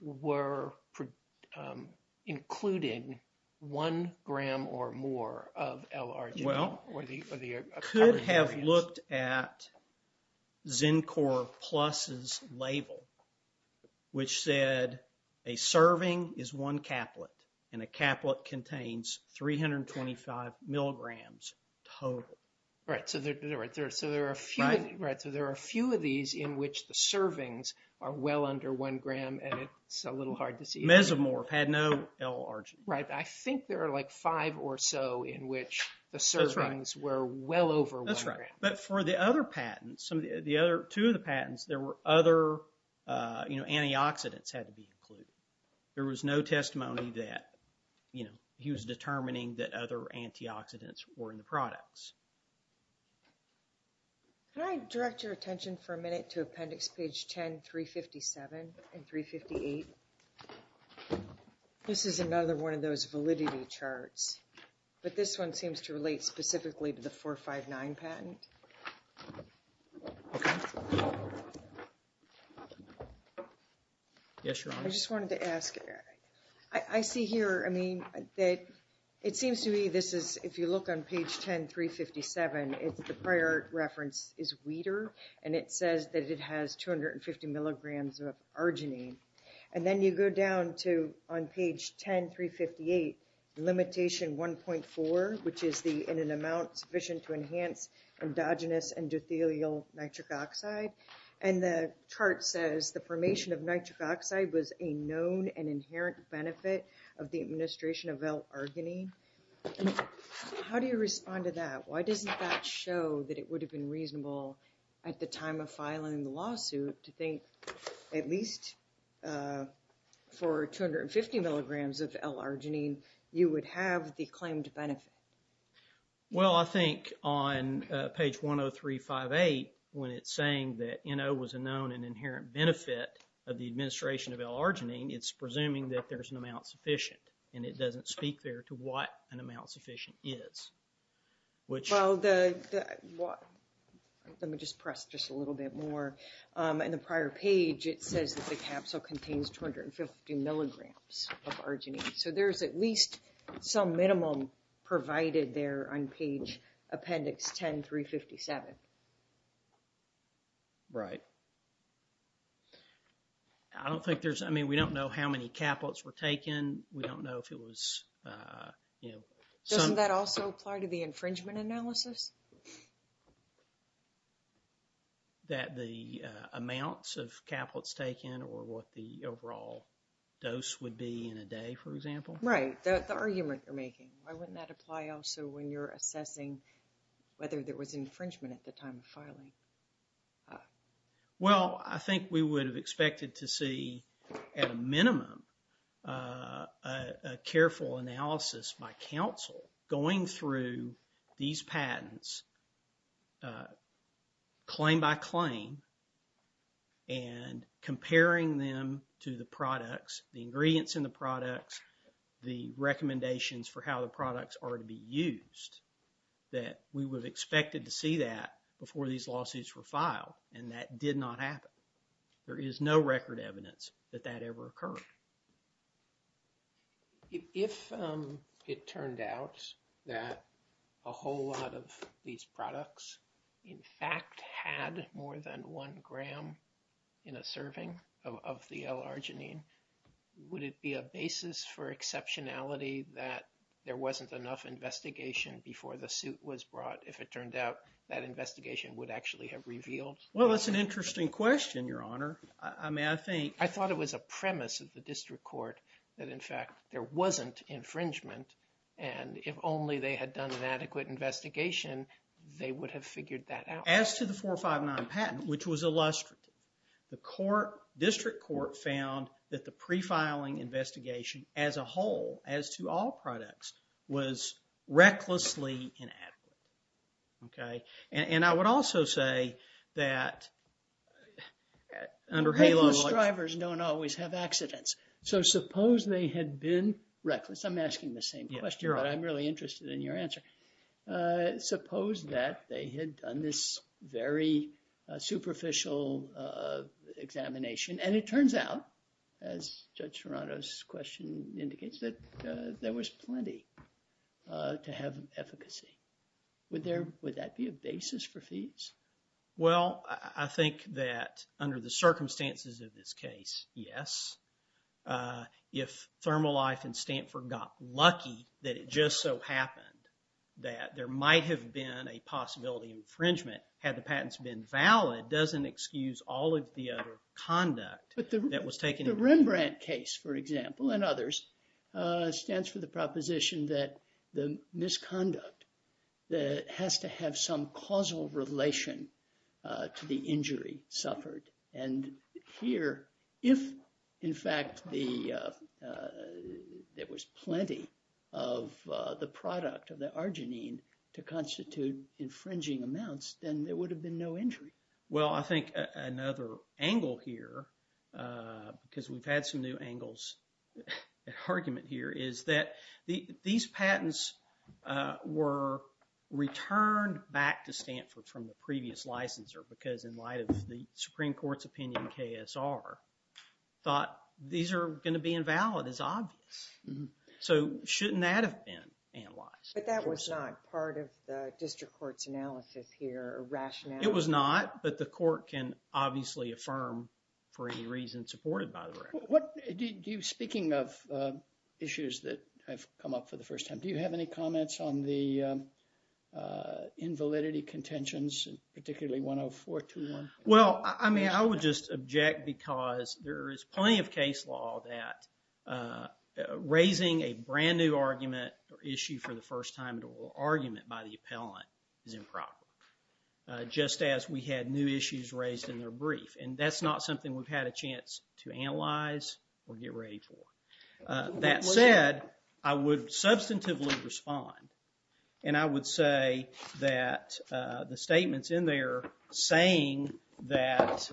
were including one gram or more of L-Arginine? Well, could have looked at Zincor Plus's label, which said a serving is one caplet and a caplet contains 325 milligrams total. Right, so there are a few of these in which the servings are well under one gram and it's a little hard to see. Mesomorph had no L-Arginine. Right, I think there are like five or so in which the servings were well over one gram. That's right, but for the other patents, two of the patents, there were other antioxidants had to be included. There was no testimony that he was determining that other antioxidants were in the products. Can I direct your attention for a minute to appendix page 10, 357 and 358? This is another one of those validity charts, but this one seems to relate specifically to the 459 patent. Okay. Yes, Your Honor. I just wanted to ask, I see here, I mean, that it seems to me this is, if you look on page 10, 357, it's the prior reference is Wheater and it says that it has 250 milligrams of Arginine. And then you go down to, on page 10, 358, limitation 1.4, which is the, in an amount sufficient to enhance endogenous endothelial nitric oxide. And the chart says the formation of nitric oxide was a known and inherent benefit of the administration of L-Arginine. How do you respond to that? Why doesn't that show that it would have been reasonable at the time of filing the lawsuit to think at least for 250 milligrams of L-Arginine, you would have the claimed benefit? Well, I think on page 10, 358, when it's saying that NO was a known and inherent benefit of the administration of L-Arginine, it's presuming that there's an amount sufficient. And it doesn't speak there to what an amount sufficient is. Well, let me just press just a little bit more. In the prior page, it says that the capsule contains 250 milligrams of Arginine. So, there's at least some minimum provided there on page appendix 10, 357. Right. I don't think there's, I mean, we don't know how many caplets were taken. We don't know if it was, you know. Doesn't that also apply to the infringement analysis? That the amounts of caplets taken or what the overall dose would be in a day, for example? Right. The argument you're making. Why wouldn't that apply also when you're assessing whether there was infringement at the time of filing? Well, I think we would have expected to see, at a minimum, a careful analysis by counsel going through these patents claim by claim and comparing them to the products, the ingredients in the products, the recommendations for how the products are to be used. That we would have expected to see that before these lawsuits were filed and that did not happen. There is no record evidence that that ever occurred. If it turned out that a whole lot of these products, in fact, had more than one gram in a serving of the L-Arginine, would it be a basis for exceptionality that there wasn't enough investigation before the suit was brought? If it turned out that investigation would actually have revealed? Well, that's an interesting question, Your Honor. I mean, I think. I thought it was a premise of the district court that, in fact, there wasn't infringement. And if only they had done an adequate investigation, they would have figured that out. As to the 459 patent, which was illustrative, the court, district court, found that the pre-filing investigation as a whole, as to all products, was recklessly inadequate. Okay? And I would also say that under HALO. Reckless drivers don't always have accidents. So, suppose they had been reckless. I'm asking the same question, but I'm really interested in your answer. Suppose that they had done this very superficial examination, and it turns out, as Judge Serrato's question indicates, that there was plenty to have efficacy. Would that be a basis for fees? Well, I think that under the circumstances of this case, yes. If ThermoLife and Stanford got lucky that it just so happened that there might have been a possibility of infringement, had the patents been valid, doesn't excuse all of the other conduct that was taken. But the Rembrandt case, for example, and others, stands for the proposition that the misconduct has to have some causal relation to the injury suffered. And here, if, in fact, there was plenty of the product of the arginine to constitute infringing amounts, then there would have been no injury. Well, I think another angle here, because we've had some new angles at argument here, is that these patents were returned back to Stanford from the previous licensor, because in light of the Supreme Court's opinion in KSR, thought, these are going to be invalid, it's obvious. So, shouldn't that have been analyzed? But that was not part of the district court's analysis here, or rationale? It was not, but the court can obviously affirm for any reason supported by the record. Speaking of issues that have come up for the first time, do you have any comments on the invalidity contentions, particularly 10421? Well, I mean, I would just object because there is plenty of case law that raising a brand new argument or issue for the first time, or argument by the appellant, is improper. Just as we had new issues raised in their brief, and that's not something we've had a chance to analyze or get ready for. That said, I would substantively respond, and I would say that the statements in there saying that,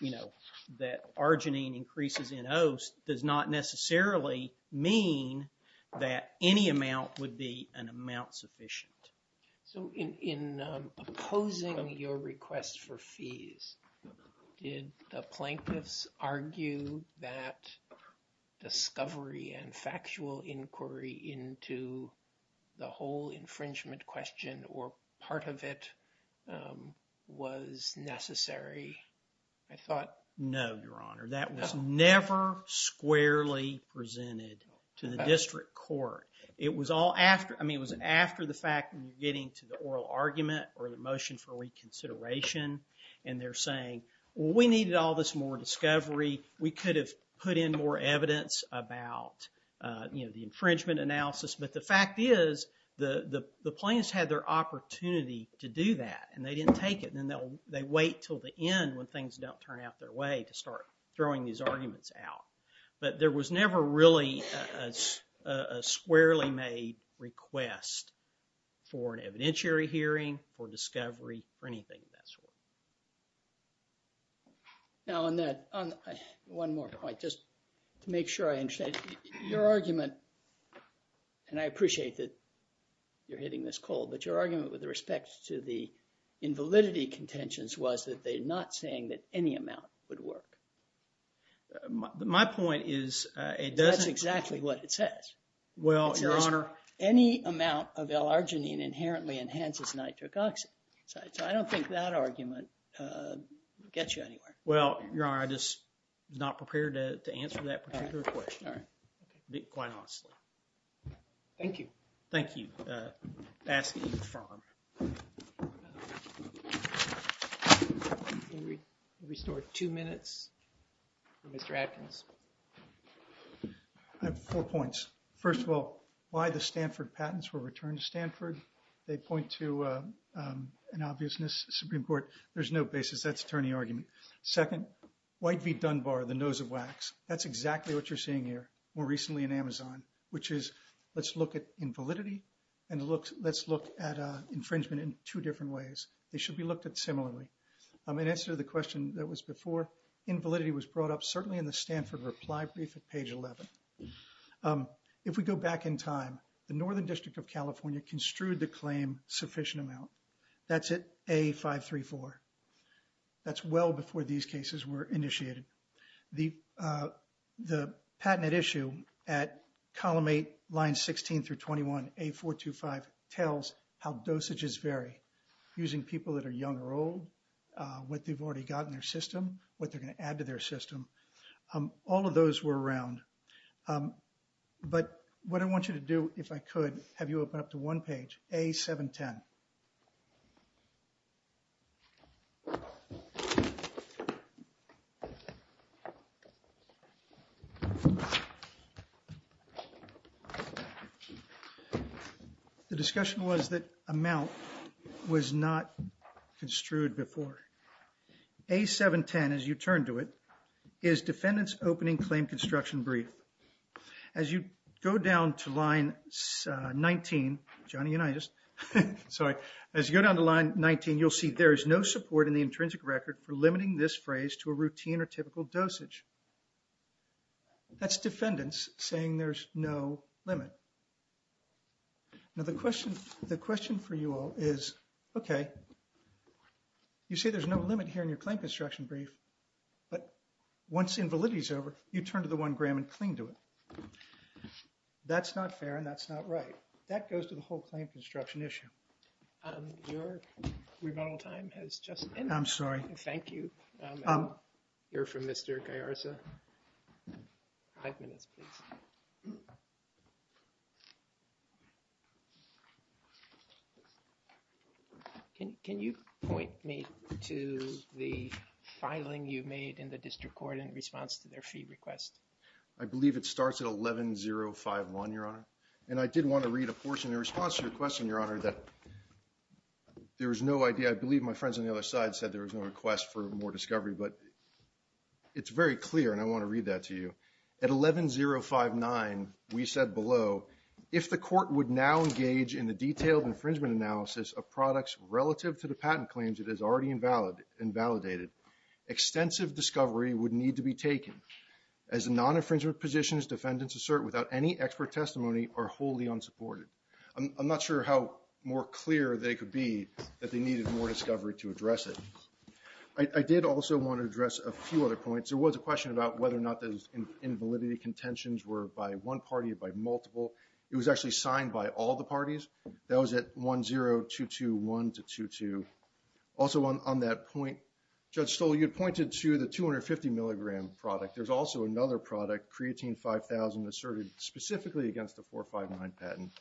you know, that arginine increases in oast does not necessarily mean that any amount would be an amount sufficient. So, in opposing your request for fees, did the plaintiffs argue that discovery and factual inquiry into the whole infringement question, or part of it, was necessary? No, Your Honor. That was never squarely presented to the district court. It was all after, I mean, it was after the fact when you're getting to the oral argument or the motion for reconsideration, and they're saying, well, we needed all this more discovery. We could have put in more evidence about, you know, the infringement analysis. But the fact is, the plaintiffs had their opportunity to do that, and they didn't take it, and they wait until the end when things don't turn out their way to start throwing these arguments out. But there was never really a squarely made request for an evidentiary hearing, for discovery, for anything of that sort. Now, on that, on one more point, just to make sure I understand, your argument, and I appreciate that you're hitting this cold, but your argument with respect to the invalidity contentions was that they're not saying that any amount would work. My point is, it doesn't. That's exactly what it says. Well, Your Honor. Any amount of L-Arginine inherently enhances nitric oxide, so I don't think that argument gets you anywhere. Well, Your Honor, I'm just not prepared to answer that particular question. All right. Quite honestly. Thank you. Thank you. Asking you to confirm. Restore two minutes for Mr. Adkins. I have four points. First of all, why the Stanford patents were returned to Stanford. They point to an obviousness, Supreme Court. There's no basis. That's attorney argument. Second, White v. Dunbar, the nose of wax. That's exactly what you're seeing here. More recently in Amazon, which is, let's look at invalidity and let's look at infringement in two different ways. They should be looked at similarly. In answer to the question that was before, invalidity was brought up certainly in the Stanford reply brief at page 11. If we go back in time, the Northern District of California construed the claim sufficient amount. That's at A-534. That's well before these cases were initiated. The patented issue at column eight, line 16 through 21, A-425, tells how dosages vary using people that are young or old. What they've already got in their system, what they're going to add to their system. All of those were around. But what I want you to do, if I could, have you open up to one page, A-710. The discussion was that amount was not construed before. A-710, as you turn to it, is defendant's opening claim construction brief. As you go down to line 19, Johnny and I just, sorry. As you go down to line 19, you'll see there is no support in the intrinsic record for limiting this phrase to a routine or typical dosage. That's defendants saying there's no limit. Now the question for you all is, okay. You say there's no limit here in your claim construction brief. But once invalidity is over, you turn to the one gram and cling to it. That's not fair and that's not right. That goes to the whole claim construction issue. Your rebuttal time has just ended. I'm sorry. Thank you. I'll hear from Mr. Gallarza. Five minutes, please. Can you point me to the filing you made in the district court in response to their fee request? I believe it starts at 11-051, Your Honor. And I did want to read a portion in response to your question, Your Honor, that there was no idea. I believe my friends on the other side said there was no request for more discovery. But it's very clear, and I want to read that to you. At 11-059, we said below, if the court would now engage in the detailed infringement analysis of products relative to the patent claims it has already invalidated, extensive discovery would need to be taken. As a non-infringement position, defendants assert without any expert testimony are wholly unsupported. I'm not sure how more clear they could be that they needed more discovery to address it. I did also want to address a few other points. There was a question about whether or not those invalidity contentions were by one party or by multiple. It was actually signed by all the parties. That was at 10-221-22. Also on that point, Judge Stoll, you had pointed to the 250-milligram product. There's also another product, creatine 5000, asserted specifically against the 4-5-9 patent.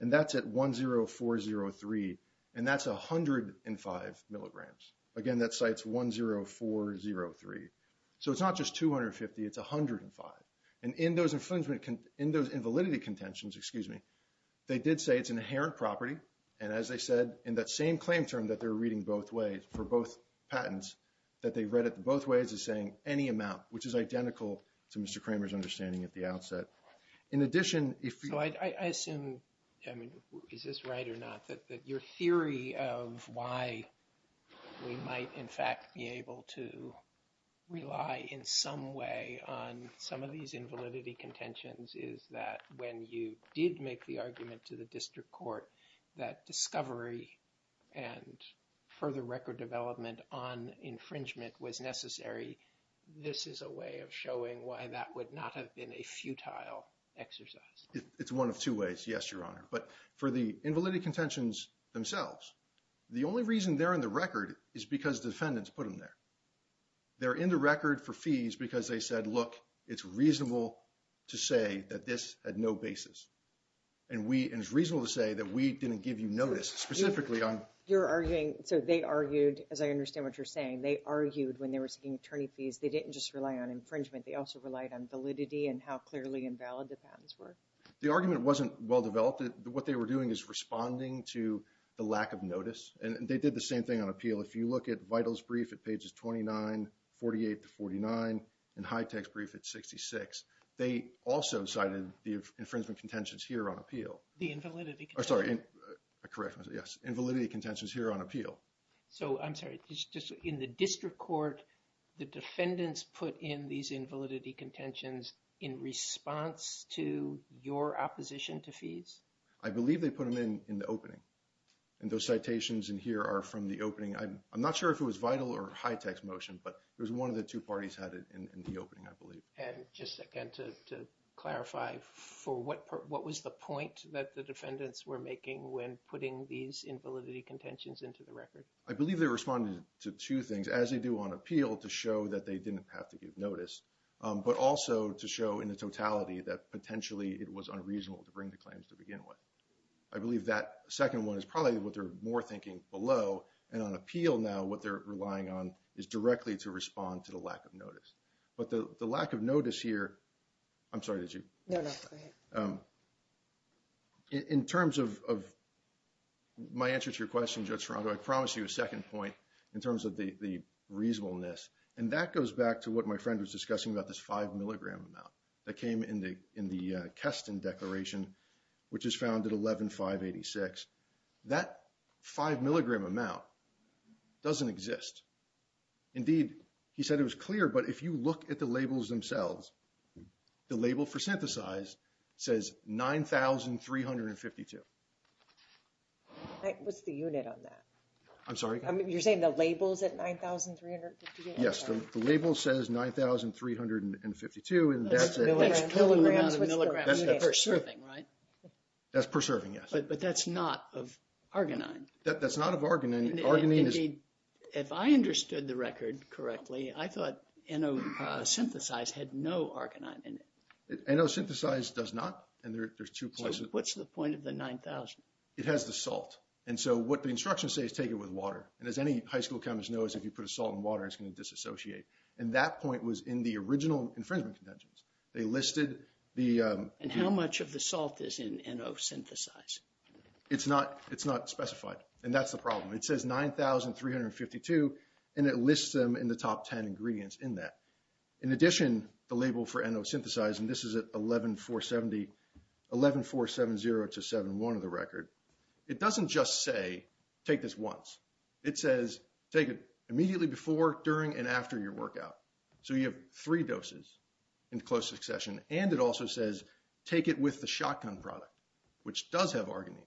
And that's at 1-0-4-0-3, and that's 105 milligrams. Again, that cites 1-0-4-0-3. So it's not just 250, it's 105. And in those invalidity contentions, they did say it's an inherent property. And as I said, in that same claim term that they're reading both ways for both patents, that they read it both ways as saying any amount, which is identical to Mr. Kramer's understanding at the outset. In addition, if you – So I assume, I mean, is this right or not, that your theory of why we might in fact be able to rely in some way on some of these invalidity contentions is that when you did make the argument to the district court that discovery and further record development on infringement was necessary, this is a way of showing why that would not have been a futile exercise? It's one of two ways, yes, Your Honor. But for the invalidity contentions themselves, the only reason they're in the record is because defendants put them there. They're in the record for fees because they said, look, it's reasonable to say that this had no basis. And it's reasonable to say that we didn't give you notice specifically on – You're arguing – so they argued, as I understand what you're saying, they argued when they were seeking attorney fees, they didn't just rely on infringement. They also relied on validity and how clearly invalid the patents were. The argument wasn't well-developed. What they were doing is responding to the lack of notice. And they did the same thing on appeal. If you look at Vital's brief at pages 29, 48 to 49, and Hitech's brief at 66, they also cited the infringement contentions here on appeal. The invalidity – Sorry, correct, yes, invalidity contentions here on appeal. So, I'm sorry, just in the district court, the defendants put in these invalidity contentions in response to your opposition to fees? I believe they put them in in the opening. And those citations in here are from the opening. I'm not sure if it was Vital or Hitech's motion, but it was one of the two parties had it in the opening, I believe. And just again to clarify, what was the point that the defendants were making when putting these invalidity contentions into the record? I believe they responded to two things, as they do on appeal, to show that they didn't have to give notice, but also to show in the totality that potentially it was unreasonable to bring the claims to begin with. I believe that second one is probably what they're more thinking below. And on appeal now, what they're relying on is directly to respond to the lack of notice. But the lack of notice here – I'm sorry, did you? No, no, go ahead. In terms of my answer to your question, Judge Ferrando, I promised you a second point in terms of the reasonableness. And that goes back to what my friend was discussing about this five milligram amount that came in the Keston Declaration, which is found at 11,586. That five milligram amount doesn't exist. Indeed, he said it was clear, but if you look at the labels themselves, the label for synthesized says 9,352. What's the unit on that? I'm sorry? You're saying the labels at 9,352? Yes, the label says 9,352, and that's it. That's kilograms per serving, right? That's per serving, yes. But that's not of arginine. That's not of arginine. Indeed, if I understood the record correctly, I thought N-osynthesized had no arginine in it. N-osynthesized does not, and there's two points. So what's the point of the 9,000? It has the salt. And so what the instructions say is take it with water. And as any high school chemist knows, if you put a salt in water, it's going to disassociate. And that point was in the original infringement contentions. They listed the- And how much of the salt is in N-osynthesized? It's not specified, and that's the problem. It says 9,352, and it lists them in the top 10 ingredients in that. In addition, the label for N-osynthesized, and this is at 11,470 to 71 of the record, it doesn't just say take this once. It says take it immediately before, during, and after your workout. So you have three doses in close succession. And it also says take it with the shotgun product, which does have arginine.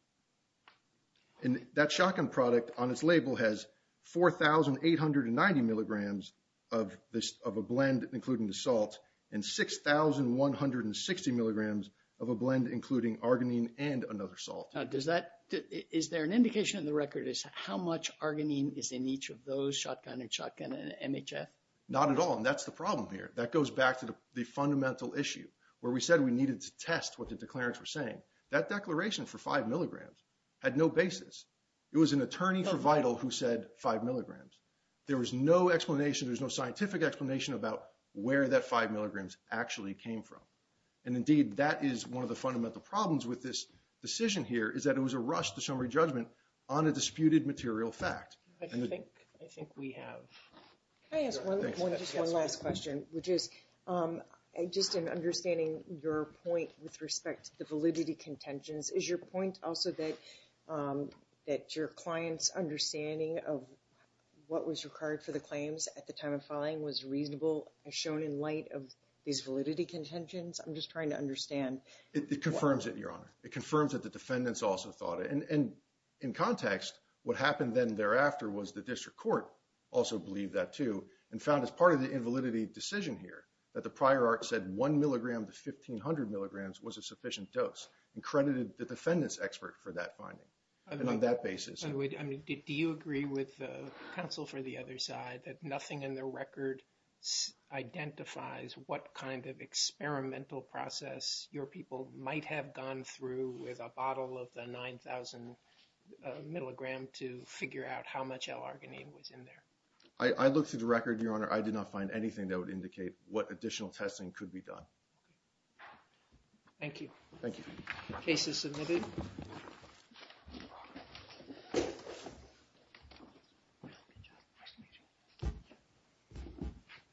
And that shotgun product on its label has 4,890 milligrams of a blend including the salt and 6,160 milligrams of a blend including arginine and another salt. Is there an indication in the record as to how much arginine is in each of those shotgun and shotgun and MHF? Not at all, and that's the problem here. That goes back to the fundamental issue where we said we needed to test what the declarants were saying. That declaration for 5 milligrams had no basis. It was an attorney for Vital who said 5 milligrams. There was no explanation. There was no scientific explanation about where that 5 milligrams actually came from. And, indeed, that is one of the fundamental problems with this decision here, is that it was a rush to summary judgment on a disputed material fact. I think we have. Can I ask just one last question, which is just in understanding your point with respect to the validity contentions, is your point also that your client's understanding of what was required for the claims at the time of filing was reasonable as shown in light of these validity contentions? I'm just trying to understand. It confirms it, Your Honor. It confirms that the defendants also thought it. And in context, what happened then thereafter was the district court also believed that, too, and found as part of the invalidity decision here that the prior art said 1 milligram to 1,500 milligrams was a sufficient dose and credited the defendant's expert for that finding and on that basis. I mean, do you agree with counsel for the other side that nothing in the record identifies what kind of experimental process your people might have gone through with a bottle of the 9,000 milligram to figure out how much L-arginine was in there? I looked through the record, Your Honor. I did not find anything that would indicate what additional testing could be done. Thank you. Thank you. Case is submitted.